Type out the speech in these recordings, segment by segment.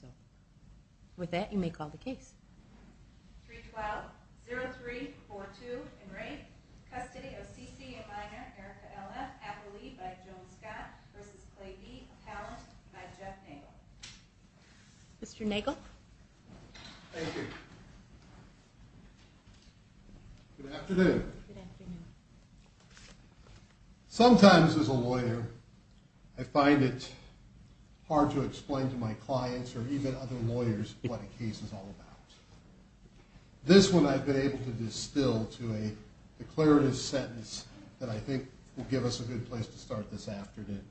So with that you may call the case three twelve zero three four two and rate Custody of C.C. and minor Erica L.F. Appley by Joan Scott versus Clay D. Talent by Jeff Nagle. Mr. Nagle. Thank you. Good afternoon. Good afternoon. Sometimes as a lawyer, I find it hard to explain to my clients or even other lawyers what a case is all about. This one I've been able to distill to a declarative sentence that I think will give us a good place to start this afternoon.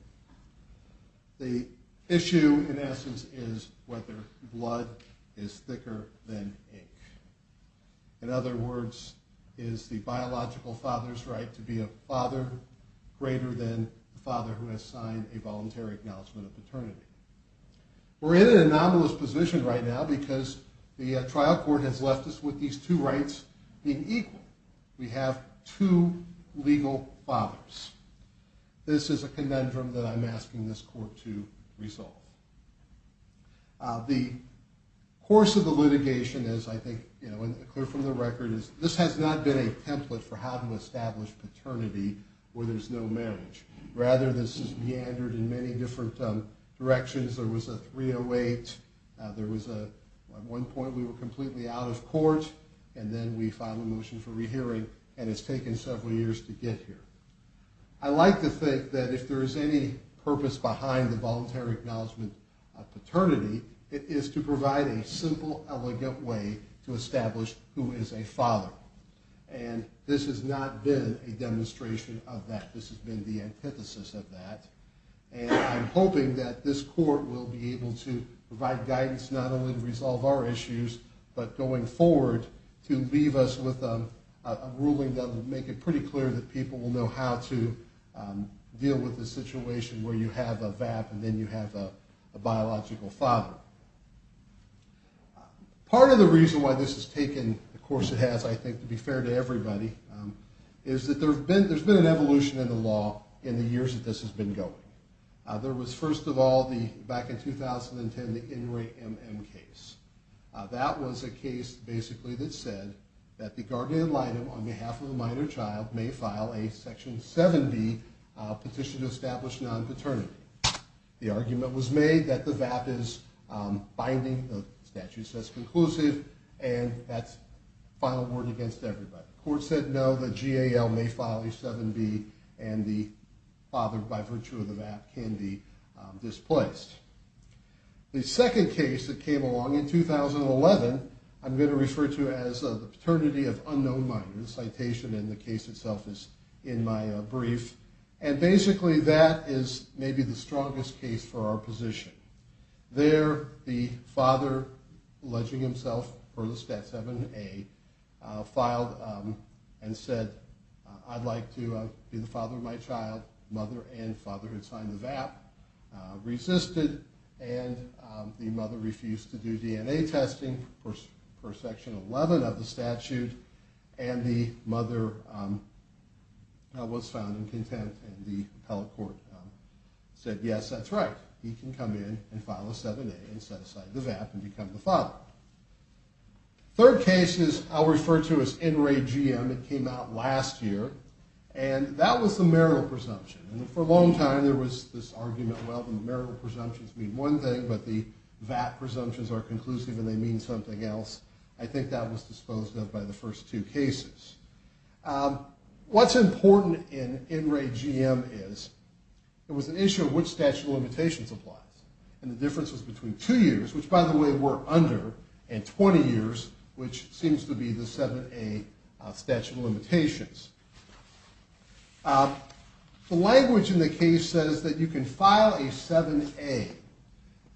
The issue in essence is whether blood is thicker than ink. In other words, is the biological father's right to be a father greater than the father who has signed a voluntary acknowledgement of paternity. We're in an anomalous position right now because the trial court has left us with these two rights being equal. We have two legal fathers. This is a conundrum that I'm asking this court to resolve. The course of the litigation is I think clear from the record is this has not been a template for how to establish paternity where there's no marriage. Rather, this is meandered in many different directions. There was a 308. At one point, we were completely out of court, and then we filed a motion for rehearing, and it's taken several years to get here. I like to think that if there is any purpose behind the voluntary acknowledgement of paternity, it is to provide a simple, elegant way to establish who is a father. This has not been a demonstration of that. This has been the antithesis of that. I'm hoping that this court will be able to provide guidance not only to resolve our issues, but going forward to leave us with a ruling that will make it pretty clear that people will know how to deal with the situation where you have a VAP and then you have a biological father. Part of the reason why this has taken the course it has, I think, to be fair to everybody, is that there's been an evolution in the law in the years that this has been going. There was, first of all, back in 2010, the In Re M.M. case. That was a case, basically, that said that the guardian ad litem, on behalf of a minor child, may file a Section 7B petition to establish non-paternity. The argument was made that the VAP is binding. The statute says conclusive, and that's the final word against everybody. The court said no, that GAL may file a 7B, and the father, by virtue of the VAP, can be displaced. The second case that came along in 2011, I'm going to refer to as the Paternity of Unknown Minors Citation, and the case itself is in my brief. Basically, that is maybe the strongest case for our position. There, the father, alleging himself for the Stat 7A, filed and said, I'd like to be the father of my child. Mother and father had signed the VAP, resisted, and the mother refused to do DNA testing for Section 11 of the statute, and the mother was found incontent, and the appellate court said, yes, that's right. He can come in and file a 7A and set aside the VAP and become the father. Third case is, I'll refer to as NRAGM. It came out last year, and that was the marital presumption. For a long time, there was this argument, well, the marital presumptions mean one thing, but the VAP presumptions are conclusive and they mean something else. I think that was disposed of by the first two cases. What's important in NRAGM is, there was an issue of which statute of limitations applies, and the difference was between two years, which, by the way, were under, and 20 years, which seems to be the 7A statute of limitations. The language in the case says that you can file a 7A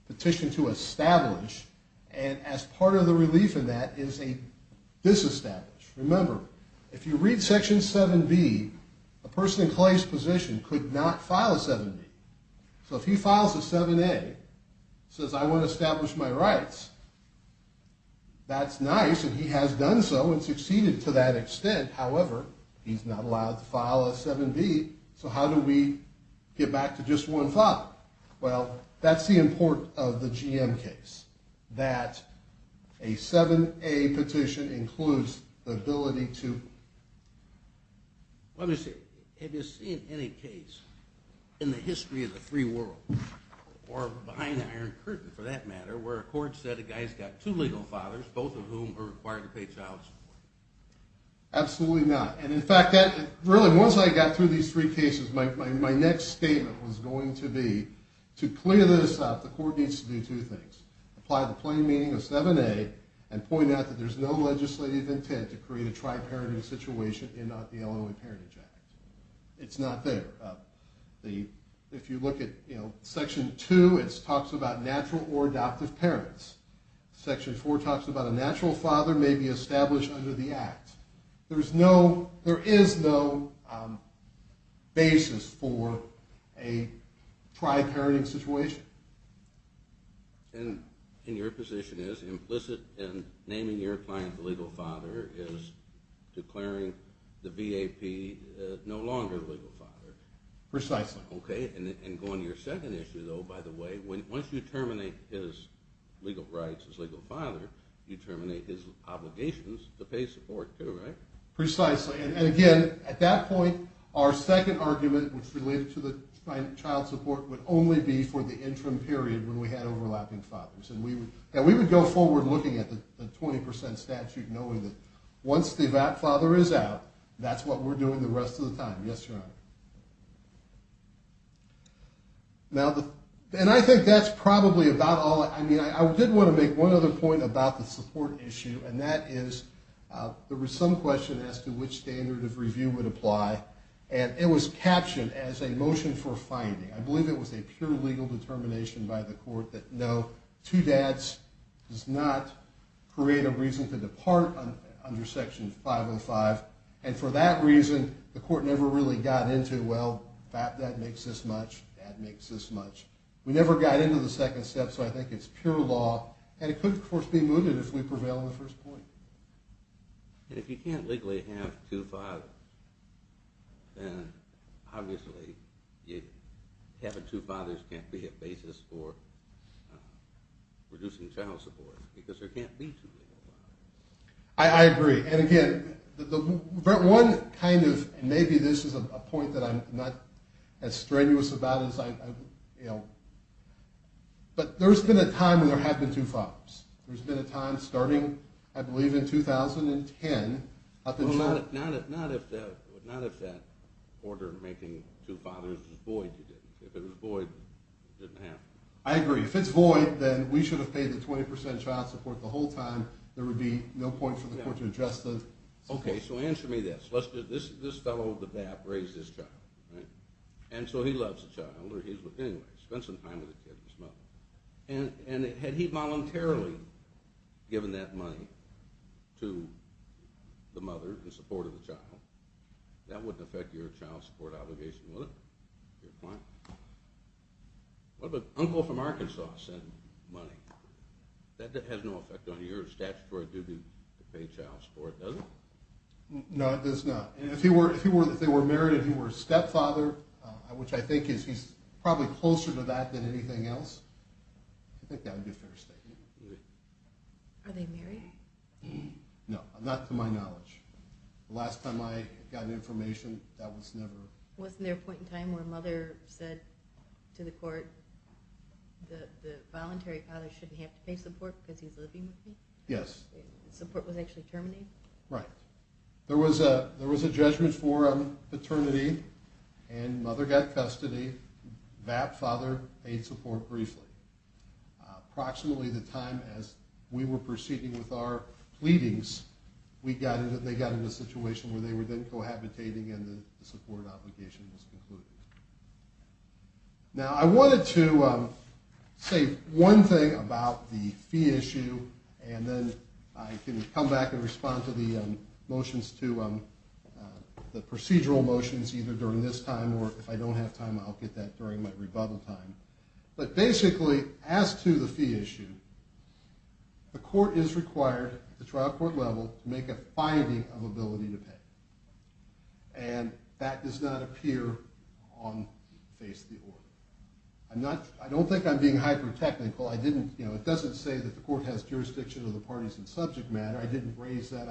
petition to establish, and as part of the relief in that is a disestablish. Remember, if you read Section 7B, a person in Clay's position could not file a 7B. So if he files a 7A, says, I want to establish my rights, that's nice, and he has done so and succeeded to that extent. However, he's not allowed to file a 7B, so how do we get back to just one father? Well, that's the importance of the GM case, that a 7A petition includes the ability to... Let me see. Have you seen any case in the history of the free world, or behind an iron curtain, for that matter, where a court said a guy's got two legal fathers, both of whom are required to pay child support? Absolutely not. And in fact, really, once I got through these three cases, my next statement was going to be, to clear this up, the court needs to do two things. Apply the plain meaning of 7A, and point out that there's no legislative intent to create a tri-parenting situation in the Illinois Parentage Act. It's not there. If you look at Section 2, it talks about natural or adoptive parents. Section 4 talks about a natural father may be established under the Act. There is no basis for a tri-parenting situation. And your position is, naming your client a legal father is declaring the BAP no longer a legal father. Precisely. Okay. And going to your second issue, though, by the way, once you terminate his legal rights as legal father, you terminate his obligations to pay support, too, right? Precisely. And again, at that point, our second argument, which related to the child support, would only be for the interim period when we had overlapping fathers. And we would go forward looking at the 20% statute knowing that once the BAP father is out, that's what we're doing the rest of the time. Yes, Your Honor. And I think that's probably about all. I mean, I did want to make one other point about the support issue, and that is there was some question as to which standard of review would apply, and it was captioned as a motion for finding. I believe it was a pure legal determination by the court that no, two dads does not create a reason to depart under Section 505. And for that reason, the court never really got into, well, BAP dad makes this much, dad makes this much. We never got into the second step, so I think it's pure law. And it could, of course, be mooted if we prevail on the first point. And if you can't legally have two fathers, then obviously having two fathers can't be a basis for reducing child support because there can't be two fathers. I agree, and again, one kind of, maybe this is a point that I'm not as strenuous about as I, you know, but there's been a time when there have been two fathers. There's been a time starting, I believe, in 2010. Well, not if that order making two fathers was void, I don't think it did. If it was void, it didn't happen. I agree. If it's void, then we should have paid the 20% child support the whole time. There would be no point for the court to address the... Okay, so answer me this. Let's just, this fellow, the BAP, raised his child, right? And so he loves the child, or he's with, anyway, spent some time with the kid, his mother. And had he voluntarily given that money to the mother in support of the child, that wouldn't affect your child support obligation, would it? Would it be a point? What if an uncle from Arkansas sent money? That has no effect on your statutory duty to pay child support, does it? No, it does not. And if he were, if they were married and he were a stepfather, which I think is, he's probably closer to that than anything else, Are they married? No, not to my knowledge. The last time I got information, that was never... Wasn't there a point in time where a mother said to the court, the voluntary father shouldn't have to pay support because he's living with me? Yes. Support was actually terminated? Right. There was a judgment for paternity, and mother got custody. BAP father paid support briefly. Approximately the time as we were proceeding with our pleadings, they got into a situation where they were then cohabitating and the support obligation was concluded. Now, I wanted to say one thing about the fee issue, and then I can come back and respond to the motions, to the procedural motions, either during this time, or if I don't have time, I'll get that during my rebuttal time. But basically, as to the fee issue, the court is required, at the trial court level, to make a finding of ability to pay. And that does not appear on the face of the order. I don't think I'm being hyper-technical. It doesn't say that the court has jurisdiction of the parties in subject matter. I didn't raise that.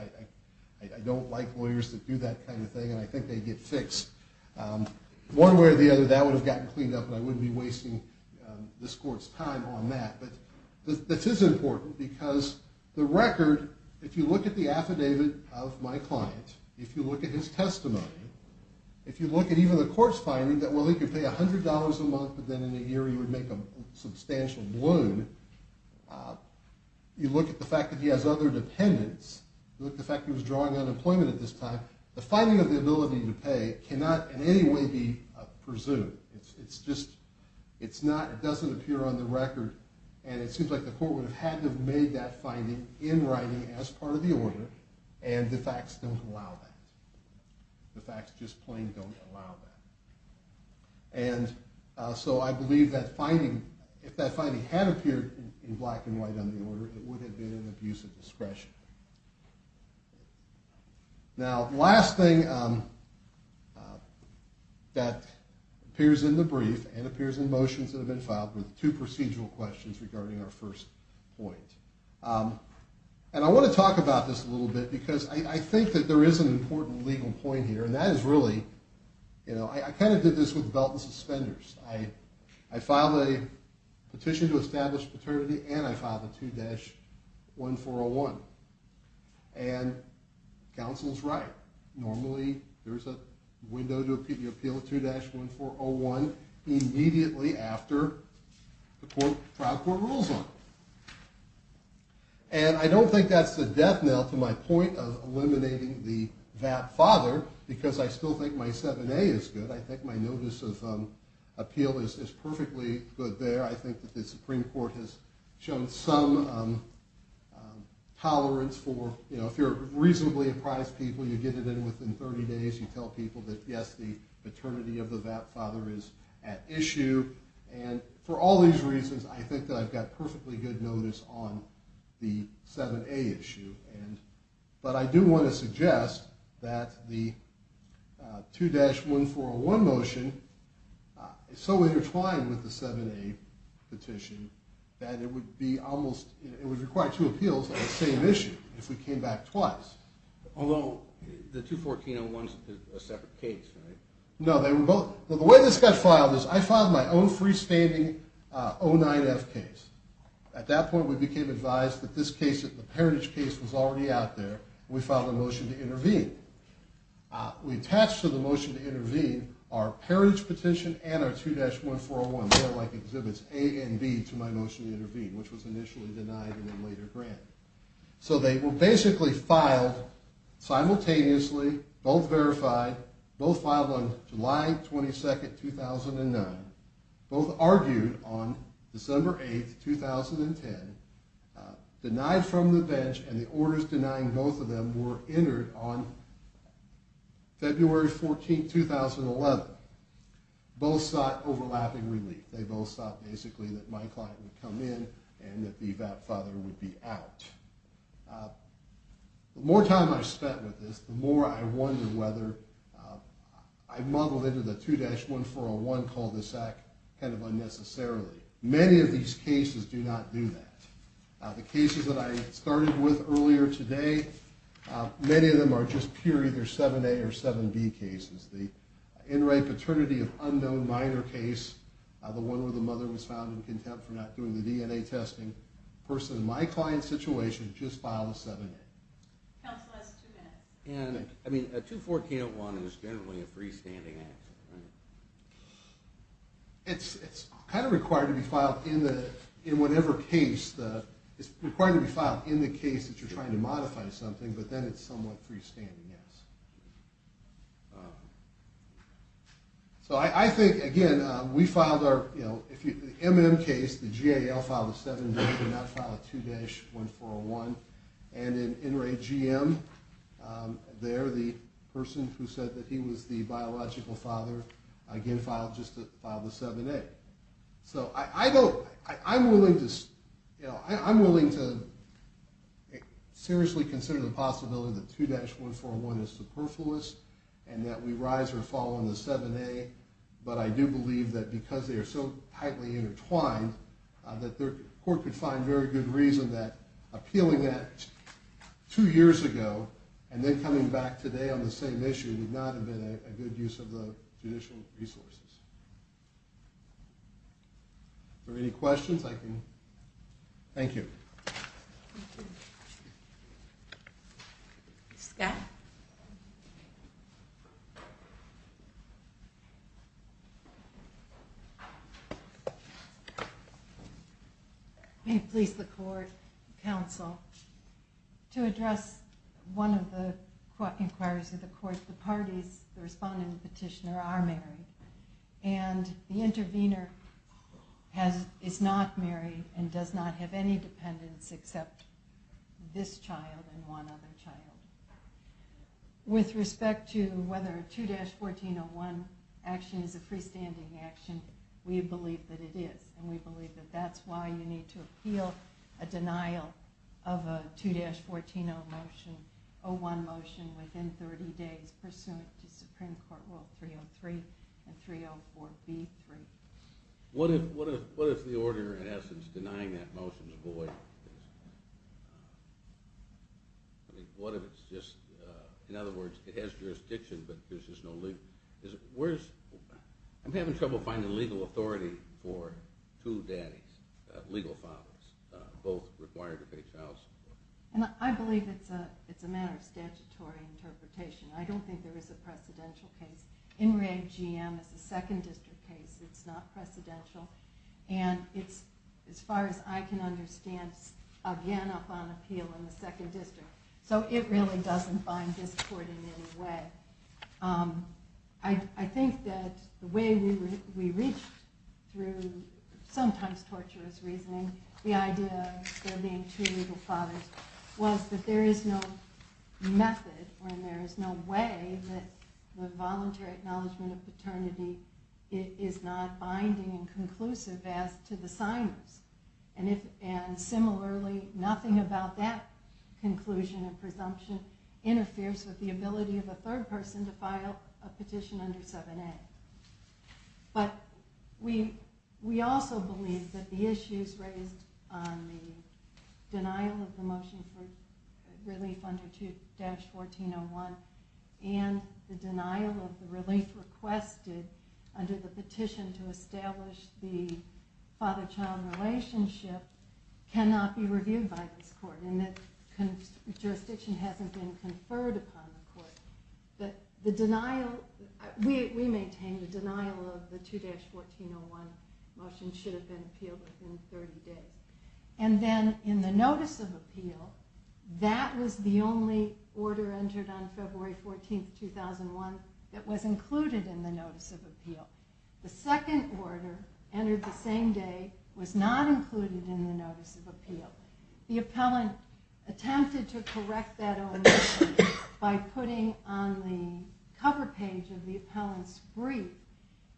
I don't like lawyers that do that kind of thing, and I think they get fixed. One way or the other, that would have gotten cleaned up, and I wouldn't be wasting this court's time on that. But this is important, because the record, if you look at the affidavit of my client, if you look at his testimony, if you look at even the court's finding that, well, he could pay $100 a month, but then in a year he would make a substantial loon, you look at the fact that he has other dependents, you look at the fact that he was drawing unemployment at this time, the finding of the ability to pay cannot in any way be presumed. It doesn't appear on the record, and it seems like the court would have had to have made that finding in writing as part of the order, and the facts don't allow that. The facts just plain don't allow that. And so I believe that finding, if that finding had appeared in black and white on the order, it would have been an abuse of discretion. Now, last thing that appears in the brief, and appears in motions that have been filed, were the two procedural questions regarding our first point. And I want to talk about this a little bit, because I think that there is an important legal point here, and that is really, you know, I kind of did this with a belt and suspenders. I filed a petition to establish paternity, and I filed a 2-1401. And counsel's right. Normally there's a window to appeal a 2-1401 immediately after the trial court rules on it. And I don't think that's the death knell to my point of eliminating the VAT father, because I still think my 7A is good. I think my notice of appeal is perfectly good there. I think that the Supreme Court has shown some tolerance for, you know, if you're reasonably apprised people, you get it in within 30 days, you tell people that, yes, the paternity of the VAT father is at issue. And for all these reasons, I think that I've got perfectly good notice on the 7A issue. But I do want to suggest that the 2-1401 motion, it's so intertwined with the 7A petition that it would be almost, it would require two appeals on the same issue if we came back twice. Although the 2-1401 is a separate case, right? No, they were both. The way this got filed is I filed my own freestanding 09F case. At that point we became advised that this case, the parentage case was already out there, and we filed a motion to intervene. We attached to the motion to intervene our parentage petition and our 2-1401, they're like exhibits A and B to my motion to intervene, which was initially denied in a later grant. So they were basically filed simultaneously, both verified, both filed on July 22, 2009, both argued on December 8, 2010, denied from the bench, and the orders denying both of them were entered on February 14, 2011. Both sought overlapping relief. They both sought basically that my client would come in and that the VAP father would be out. The more time I spent with this, the more I wonder whether I muddled into the 2-1401 cul-de-sac kind of unnecessarily. Many of these cases do not do that. The cases that I started with earlier today, many of them are just pure either 7A or 7B cases. The in-rape paternity of unknown minor case, the one where the mother was found in contempt for not doing the DNA testing, the person in my client's situation just filed a 7A. Counsel has two minutes. I mean, a 2-1401 is generally a freestanding action. It's kind of required to be filed in whatever case. It's required to be filed in the case that you're trying to modify something, but then it's somewhat freestanding, yes. So I think, again, we filed our, you know, the MM case, the GAL filed a 7B, did not file a 2-1401, and in NRA GM there, the person who said that he was the biological father, again, filed just to file the 7A. So I don't, I'm willing to, you know, I'm willing to seriously consider the possibility that 2-1401 is superfluous and that we rise or fall on the 7A, but I do believe that because they are so tightly intertwined that the court could find very good reason that appealing that two years ago and then coming back today on the same issue did not have been a good use of the judicial resources. Are there any questions? I can... Thank you. Scott? May it please the court, counsel, to address one of the inquiries of the court, the parties, the respondent and petitioner are married, and the intervener is not married and does not have any dependents except this child and one other child. With respect to whether a 2-1401 action is a freestanding action, we believe that it is, and we believe that that's why you need to appeal a denial of a 2-1401 motion within 30 days pursuant to Supreme Court Rule 303 and 304B. What if the order in essence denying that motion is void? What if it's just... In other words, it has jurisdiction, but there's just no legal... I'm having trouble finding legal authority for two daddies, legal fathers, both required to pay child support. I believe it's a matter of statutory interpretation. I don't think there is a precedential case. In Reg, GM is a second district case. It's not precedential. And it's, as far as I can understand, again upon appeal in the second district. So it really doesn't bind this court in any way. I think that the way we reach through sometimes torturous reasoning, the idea of there being two legal fathers, was that there is no method, or there is no way that the voluntary acknowledgement of paternity is not binding and conclusive as to the signers. And similarly, nothing about that conclusion and presumption interferes with the ability of a third person to file a petition under 7A. But we also believe that the issues raised on the denial of the motion for relief under 2-1401 and the denial of the relief requested under the petition to establish the father-child relationship cannot be reviewed by this court and that jurisdiction hasn't been conferred upon the court. We maintain the denial of the 2-1401 motion should have been appealed within 30 days. And then in the notice of appeal, that was the only order entered on February 14, 2001 that was included in the notice of appeal. The second order entered the same day was not included in the notice of appeal. The appellant attempted to correct that own mistake by putting on the cover page of the appellant's brief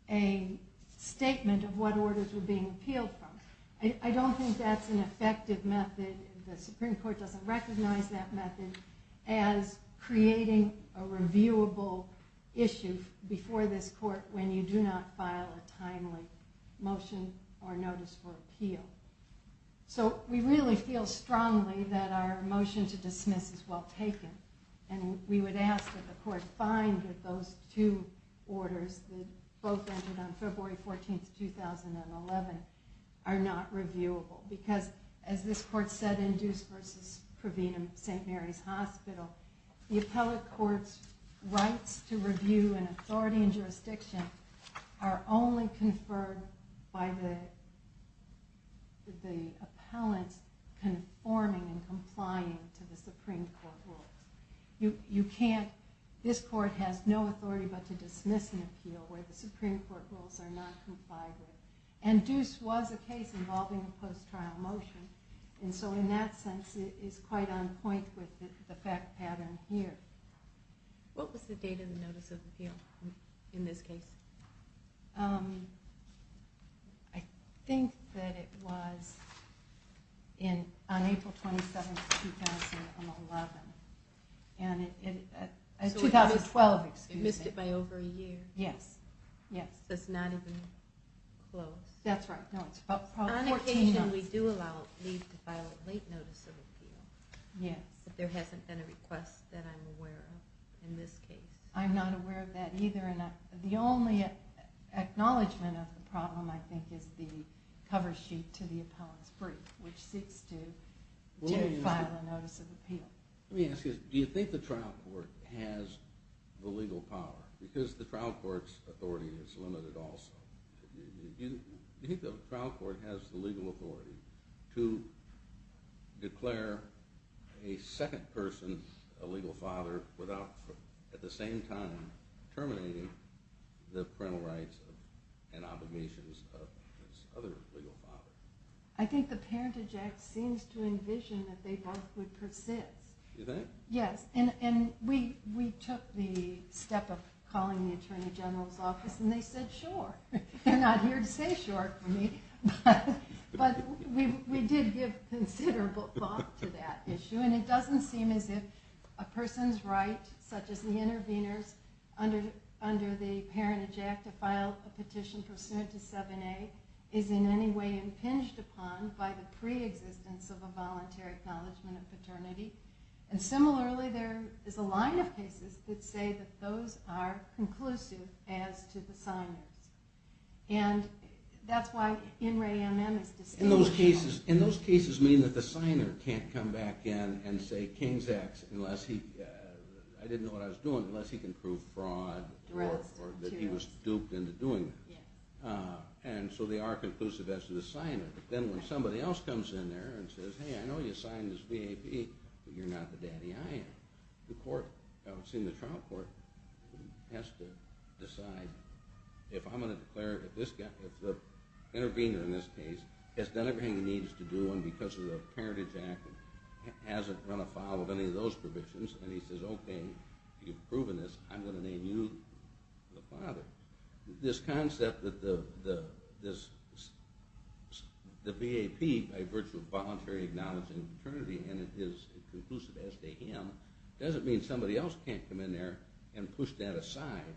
a statement of what orders were being appealed from. I don't think that's an effective method. The Supreme Court doesn't recognize that method as creating a reviewable issue before this court when you do not file a timely motion or notice for appeal. So we really feel strongly that our motion to dismiss is well taken. And we would ask that the court find that those two orders that both entered on February 14, 2011 are not reviewable. Because as this court said in Deuce v. Pravinam at St. Mary's Hospital, the appellate court's rights to review and authority and jurisdiction are only conferred by the appellant conforming and complying to the Supreme Court rules. This court has no authority but to dismiss an appeal where the Supreme Court rules are not complied with. And Deuce was a case involving a post-trial motion. And so in that sense, it is quite on point with the fact pattern here. What was the date of the notice of appeal in this case? I think that it was on April 27, 2011. 2012, excuse me. You missed it by over a year. Yes. Yes, so it's not even close. That's right. On occasion we do allow leave to file a late notice of appeal Yes, but there hasn't been a request that I'm aware of in this case. I'm not aware of that either. The only acknowledgment of the problem, I think, is the cover sheet to the appellant's brief which seeks to file a notice of appeal. Let me ask you this. Do you think the trial court has the legal power? Because the trial court's authority is limited also. Do you think the trial court has the legal authority to declare a second person a legal father without at the same time terminating the parental rights and obligations of this other legal father? I think the Parentage Act seems to envision that they both would persist. You think? Yes, and we took the step of calling the Attorney General's office and they said sure. They're not here to say sure for me. But we did give considerable thought to that issue and it doesn't seem as if a person's right, such as the intervener's, under the Parentage Act to file a petition pursuant to 7A is in any way impinged upon by the pre-existence of a voluntary acknowledgment of paternity. Similarly, there is a line of cases that say that those are conclusive as to the signers. And that's why in re-enactments... And those cases mean that the signer can't come back in and say, I didn't know what I was doing, unless he can prove fraud or that he was duped into doing it. And so they are conclusive as to the signer. But then when somebody else comes in there and says, hey, I know you signed this VAP, but you're not the daddy I am. The court, I would assume the trial court, has to decide if I'm going to declare that this guy, the intervener in this case, has done everything he needs to do and because of the Parentage Act hasn't run afoul of any of those provisions, and he says, okay, you've proven this, I'm going to name you the father. This concept that the VAP, by virtue of voluntary acknowledgment of paternity, and it is conclusive as to him, doesn't mean somebody else can't come in there and push that aside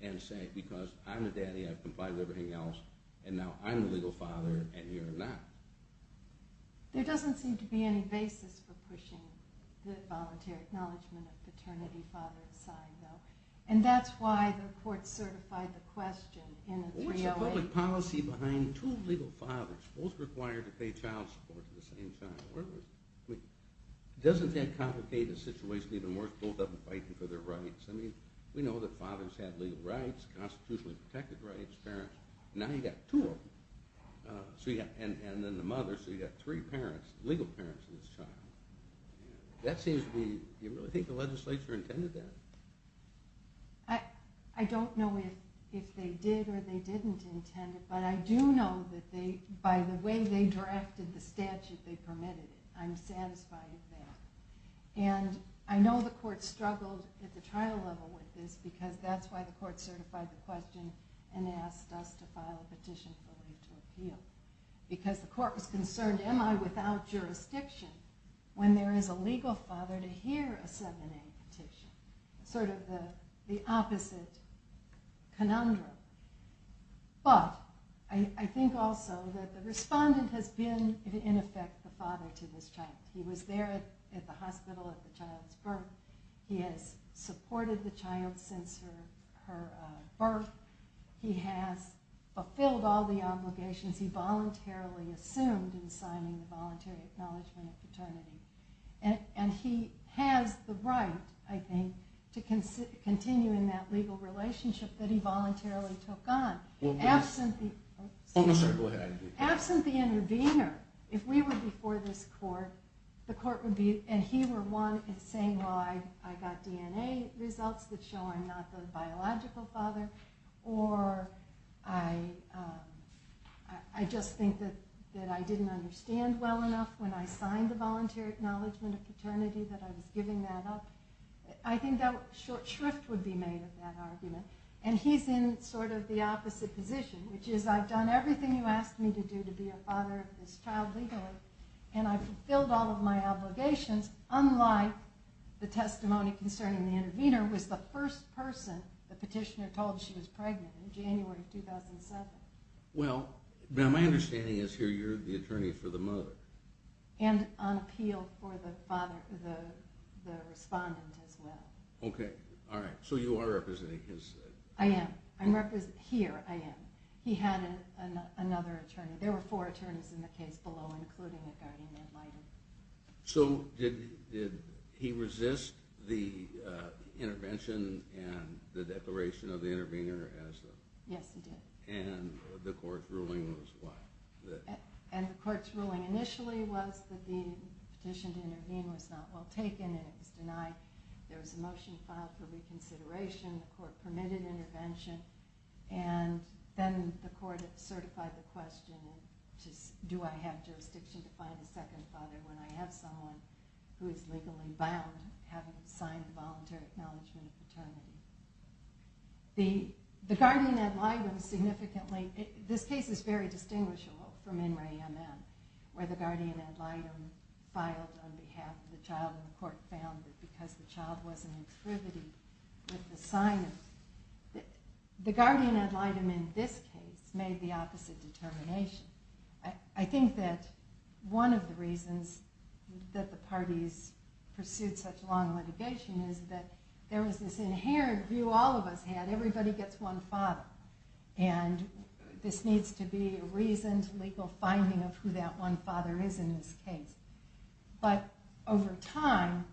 and say, because I'm the daddy, I've complied with everything else, and now I'm the legal father and you're not. There doesn't seem to be any basis for pushing the voluntary acknowledgment of paternity father aside, though. And that's why the court certified the question in the 308. What's the public policy behind two legal fathers, both required to pay child support at the same time? Doesn't that complicate the situation even more if both of them are fighting for their rights? We know that fathers have legal rights, constitutionally protected rights, parents. Now you've got two of them, and then the mother, so you've got three legal parents in this child. Do you really think the legislature intended that? I don't know if they did or they didn't intend it, but I do know that by the way they drafted the statute they permitted it. I'm satisfied with that. And I know the court struggled at the trial level with this because that's why the court certified the question and asked us to file a petition for leave to appeal. Because the court was concerned, am I without jurisdiction when there is a legal father to hear a 7A petition? Sort of the opposite conundrum. But I think also that the respondent has been in effect the father to this child. He was there at the hospital at the child's birth. He has supported the child since her birth. He has fulfilled all the obligations he voluntarily assumed in signing the Voluntary Acknowledgement of Fraternity. And he has the right, I think, to continue in that legal relationship that he voluntarily took on. Absent the intervener, if we were before this court, the court would be, and he were one in saying, well, I got DNA results that show I'm not the biological father. Or I just think that I didn't understand well enough when I signed the Voluntary Acknowledgement of Fraternity that I was giving that up. I think that short shrift would be made of that argument. And he's in sort of the opposite position, which is I've done everything you asked me to do to be a father of this child legally, and I've fulfilled all of my obligations, unlike the testimony concerning the intervener was the first person the petitioner told she was pregnant in January 2007. Well, my understanding is here you're the attorney for the mother. And on appeal for the respondent as well. Okay. All right. So you are representing his... I am. Here, I am. He had another attorney. There were four attorneys in the case below, including the guardian ad litem. So did he resist the intervention and the declaration of the intervener? Yes, he did. And the court's ruling was what? And the court's ruling initially was that the petition to intervene was not well taken and it was denied. There was a motion filed for reconsideration. The court permitted intervention. And then the court certified the question, which is do I have jurisdiction to find a second father when I have someone who is legally bound having signed a voluntary acknowledgement of paternity. The guardian ad litem significantly... This case is very distinguishable from In Re Am Em, where the guardian ad litem filed on behalf of the child and the court found that because the child wasn't intrivity with the sign of... The guardian ad litem in this case made the opposite determination. I think that one of the reasons that the parties pursued such long litigation is that there was this inherent view all of us had, everybody gets one father, and this needs to be a reasoned legal finding of who that one father is in this case. But over time,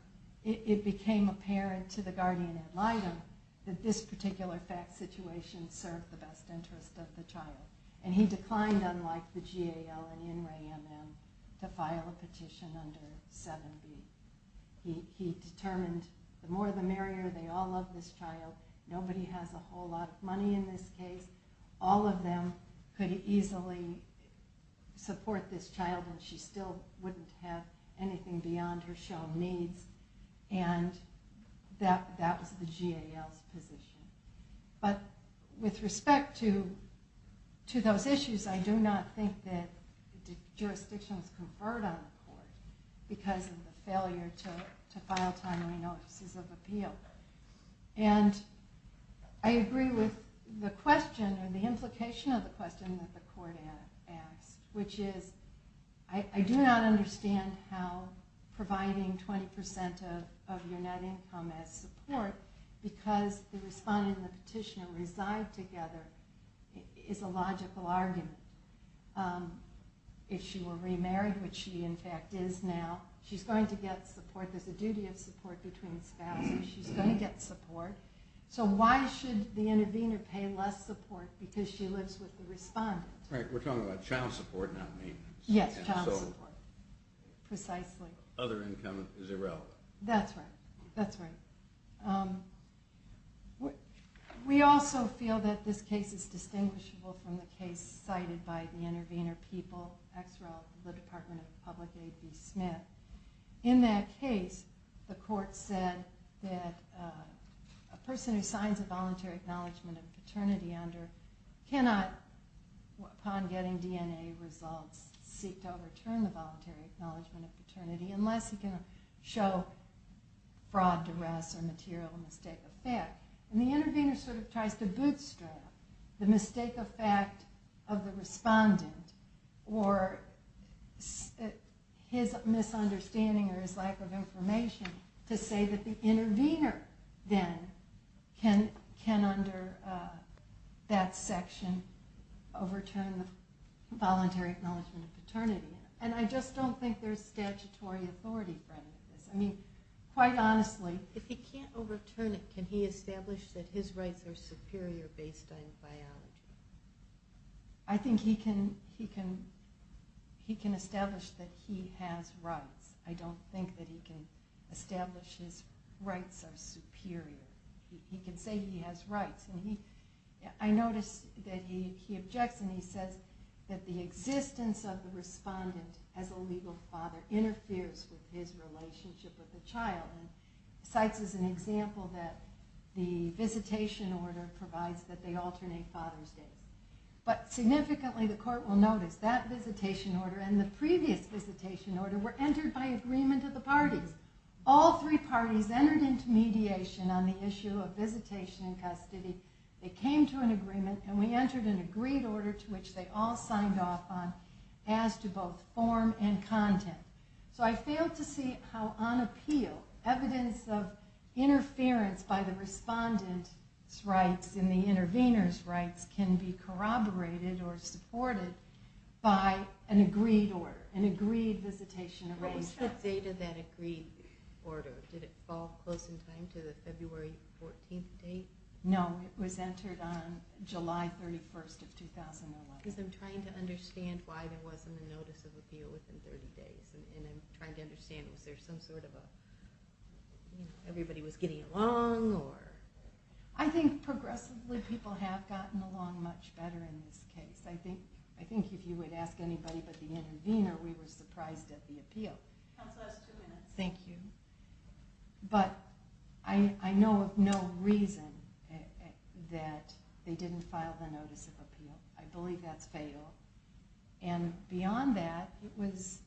it became apparent to the guardian ad litem that this particular fact situation served the best interest of the child. And he declined, unlike the GAO and In Re Am Em, to file a petition under 7B. He determined the more the merrier, they all love this child, nobody has a whole lot of money in this case, all of them could easily support this child and she still wouldn't have anything beyond her child needs, and that was the GAO's position. But with respect to those issues, I do not think that jurisdictions conferred on the court because of the failure to file timely notices of appeal. And I agree with the question, or the implication of the question that the court asked, which is, I do not understand how providing 20% of your net income as support, because the respondent and the petitioner reside together, is a logical argument. If she were remarried, which she in fact is now, she's going to get support, there's a duty of support between spouses, she's going to get support. So why should the intervener pay less support because she lives with the respondent? Right, we're talking about child support, not maintenance. Yes, child support. Precisely. Other income is irrelevant. That's right, that's right. We also feel that this case is distinguishable from the case cited by the intervener people, ex-rel of the Department of Public Aid, B. Smith. In that case, the court said that a person who signs a voluntary acknowledgement of paternity under cannot, upon getting DNA results, seek to overturn the voluntary acknowledgement of paternity unless he can show fraud, duress, or material mistake of fact. And the intervener sort of tries to bootstrap the mistake of fact of the respondent or his misunderstanding or his lack of information to say that the intervener then can under that section overturn the voluntary acknowledgement of paternity. And I just don't think there's statutory authority for any of this. I mean, quite honestly, if he can't overturn it, can he establish that his rights are superior based on biology? I think he can establish that he has rights. I don't think that he can establish his rights are superior. He can say he has rights. I noticed that he objects and he says that the existence of the respondent as a legal father interferes with his relationship with the child. And cites as an example that the visitation order provides that they alternate father's day. But significantly, the court will notice, that visitation order and the previous visitation order were entered by agreement of the parties. All three parties entered into mediation on the issue of visitation and custody. They came to an agreement and we entered an agreed order to which they all signed off on as to both form and content. So I fail to see how on appeal, evidence of interference by the respondent's rights and the intervener's rights can be corroborated or supported by an agreed order, an agreed visitation arrangement. What's the date of that agreed order? Did it fall close in time to the February 14th date? No, it was entered on July 31st of 2011. Because I'm trying to understand why there wasn't a notice of appeal within 30 days. And I'm trying to understand, was there some sort of a, everybody was getting along? I think progressively people have gotten along much better in this case. I think if you would ask anybody but the intervener, we were surprised at the appeal. Counsel, that's two minutes. Thank you. But I know of no reason that they didn't file the notice of appeal. I believe that's fatal. And beyond that, it was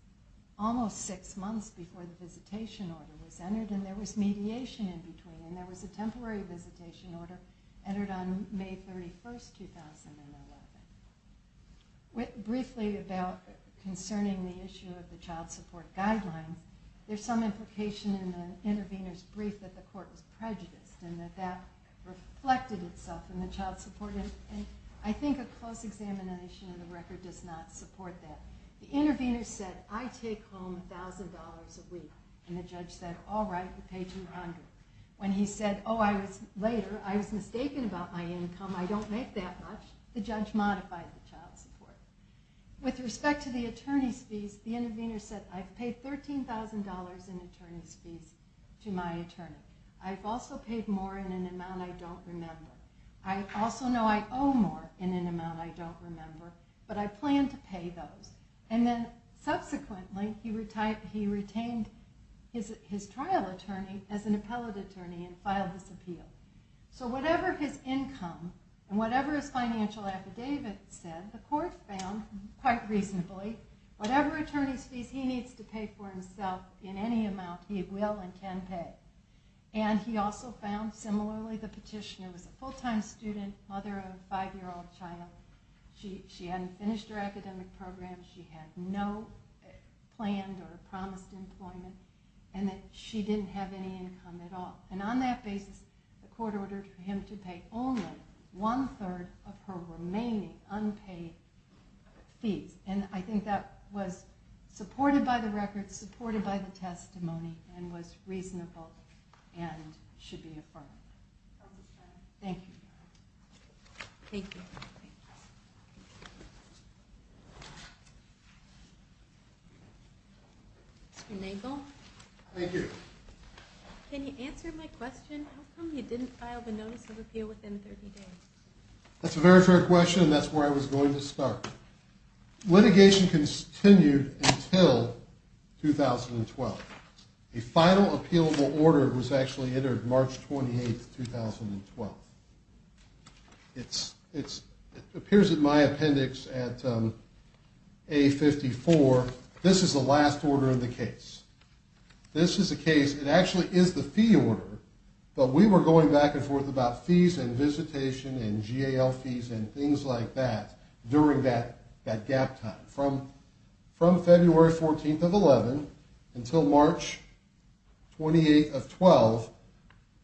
almost six months before the visitation order was entered and there was mediation in between and there was a temporary visitation order entered on May 31st, 2011. Briefly about concerning the issue of the child support guideline, there's some implication in the intervener's brief that the court was prejudiced and that that reflected itself in the child support. And I think a close examination of the record does not support that. The intervener said, I take home $1,000 a week. And the judge said, All right, we'll pay $200. When he said, Oh, later, I was mistaken about my income. I don't make that much. The judge modified the child support. With respect to the attorney's fees, the intervener said, I've paid $13,000 in attorney's fees to my attorney. I've also paid more in an amount I don't remember. I also know I owe more in an amount I don't remember, but I plan to pay those. And then subsequently, he retained his trial attorney as an appellate attorney and filed this appeal. So whatever his income and whatever his financial affidavit said, the court found, quite reasonably, whatever attorney's fees he needs to pay for himself in any amount, he will and can pay. And he also found similarly the petitioner was a full-time student, mother of a five-year-old child. She hadn't finished her academic program. She had no planned or promised employment. And that she didn't have any income at all. And on that basis, the court ordered for him to pay only one-third of her remaining unpaid fees. And I think that was supported by the record, supported by the testimony, and was reasonable and should be affirmed. Thank you. Thank you. Mr. Nagel? Thank you. Can you answer my question? How come you didn't file the notice of appeal within 30 days? That's a very fair question, and that's where I was going to start. Litigation continued until 2012. A final appealable order was actually entered March 28, 2012. It appears in my appendix at A54. This is the last order in the case. This is the case. It actually is the fee order, but we were going back and forth about fees and visitation and GAL fees and things like that during that gap time. From February 14th of 2011 until March 28th of 2012,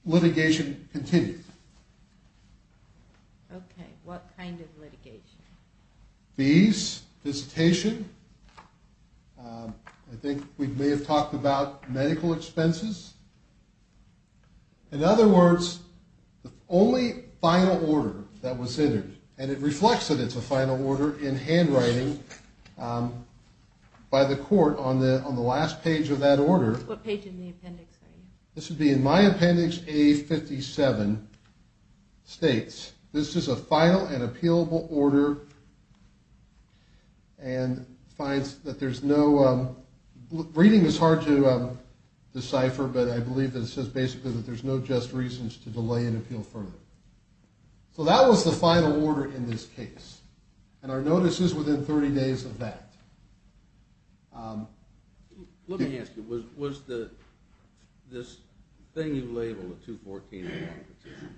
litigation continued. Okay. What kind of litigation? Fees, visitation. I think we may have talked about medical expenses. In other words, the only final order that was entered, and it reflects that it's a final order in handwriting by the court on the last page of that order. What page in the appendix are you? This would be in my appendix, A57, states, this is a final and appealable order and finds that there's no ‑‑ reading is hard to decipher, but I believe that it says basically that there's no just reasons to delay an appeal further. So that was the final order in this case, and our notice is within 30 days of that. Let me ask you, was this thing you labeled the 214.01 petition,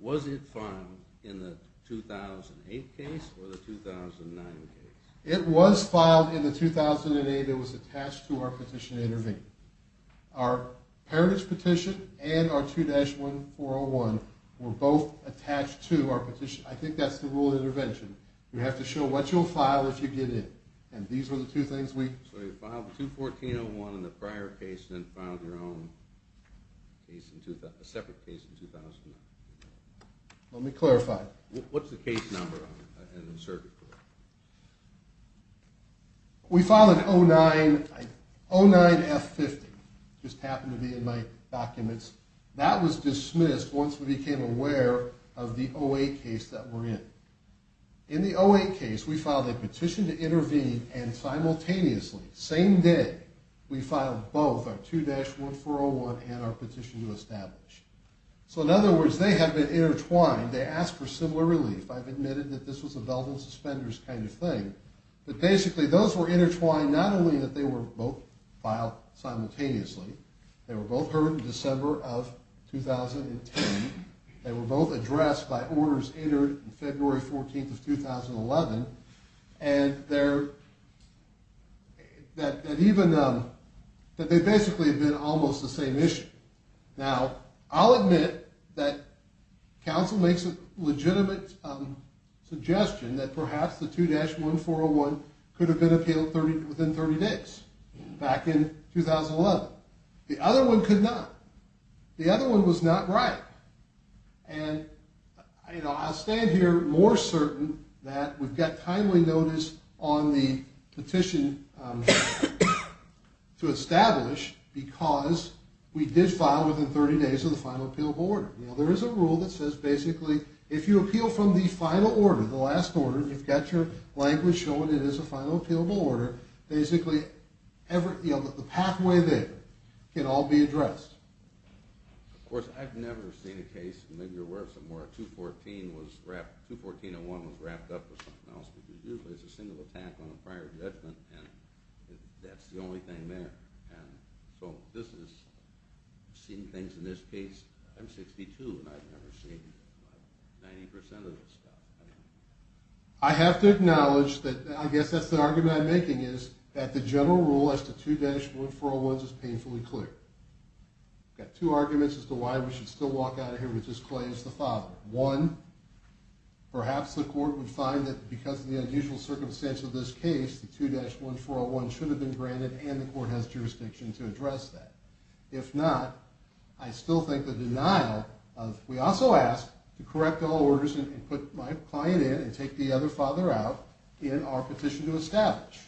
was it filed in the 2008 case or the 2009 case? It was filed in the 2008. It was attached to our petition to intervene. Our parentage petition and our 2-1401 were both attached to our petition. I think that's the rule of intervention. You have to show what you'll file if you get in, and these are the two things we ‑‑ So you filed 214.01 in the prior case and then filed your own separate case in 2009. Let me clarify. What's the case number in the circuit court? We filed it 09F50. It just happened to be in my documents. That was dismissed once we became aware of the 08 case that we're in. In the 08 case, we filed a petition to intervene and simultaneously, same day, we filed both our 2-1401 and our petition to establish. So in other words, they have been intertwined. They asked for similar relief. I've admitted that this was a velvet and suspenders kind of thing. But basically, those were intertwined, not only that they were both filed simultaneously, they were both heard in December of 2010, they were both addressed by orders entered in February 14th of 2011, and they're ‑‑ that even ‑‑ that they basically have been almost the same issue. Now, I'll admit that counsel makes a legitimate suggestion that perhaps the 2-1401 could have been appealed within 30 days, back in 2011. The other one could not. The other one was not right. And, you know, I'll stand here more certain that we've got timely notice on the petition to establish because we did file within 30 days of the final appealable order. Now, there is a rule that says basically if you appeal from the final order, the last order, you've got your language showing it is a final appealable order, basically every ‑‑ you know, the pathway there can all be addressed. Of course, I've never seen a case, and maybe you're aware of some where a 214 was wrapped, 21401 was wrapped up with something else, but usually it's a single attack on a prior judgment, and that's the only thing there. And so this is seeing things in this case, I'm 62, and I've never seen 90% of this stuff. I have to acknowledge that I guess that's the argument I'm making is that the general rule as to 21401s is painfully clear. We've got two arguments as to why we should still walk out of here with this claim as the father. One, perhaps the court would find that because of the unusual circumstance of this case, the 21401 should have been granted and the court has jurisdiction to address that. If not, I still think the denial of ‑‑ we also asked to correct all orders and put my client in and take the other father out in our petition to establish.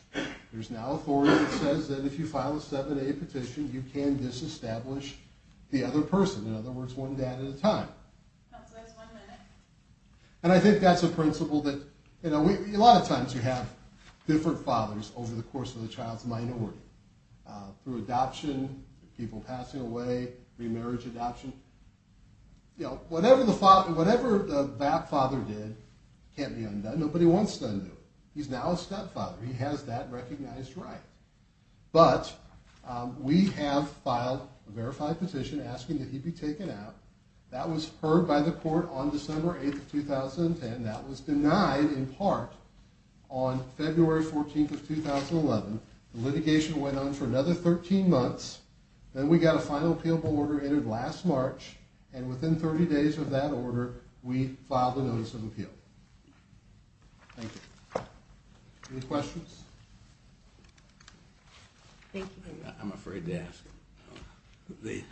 There's now authority that says that if you file a 7A petition, you can disestablish the other person, in other words, one dad at a time. That's why it's one minute. And I think that's a principle that, you know, a lot of times you have different fathers over the course of the child's minority, through adoption, people passing away, remarriage adoption. You know, whatever the father did can't be undone. Nobody wants to undo it. He's now a stepfather. He has that recognized right. But we have filed a verified petition asking that he be taken out. That was heard by the court on December 8th of 2010. That was denied in part on February 14th of 2011. The litigation went on for another 13 months. Then we got a final appealable order entered last March, and within 30 days of that order, we filed a notice of appeal. Thank you. Any questions? Thank you. I'm afraid to ask. Thank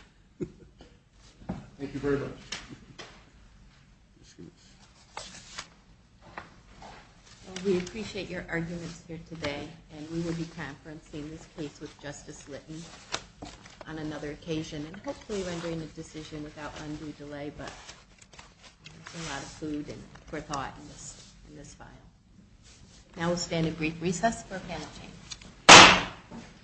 you very much. We appreciate your arguments here today, and we will be conferencing this case with Justice Litton on another occasion and hopefully rendering a decision without undue delay. But there's a lot of food for thought in this file. Now we'll stand at brief recess for a panel change.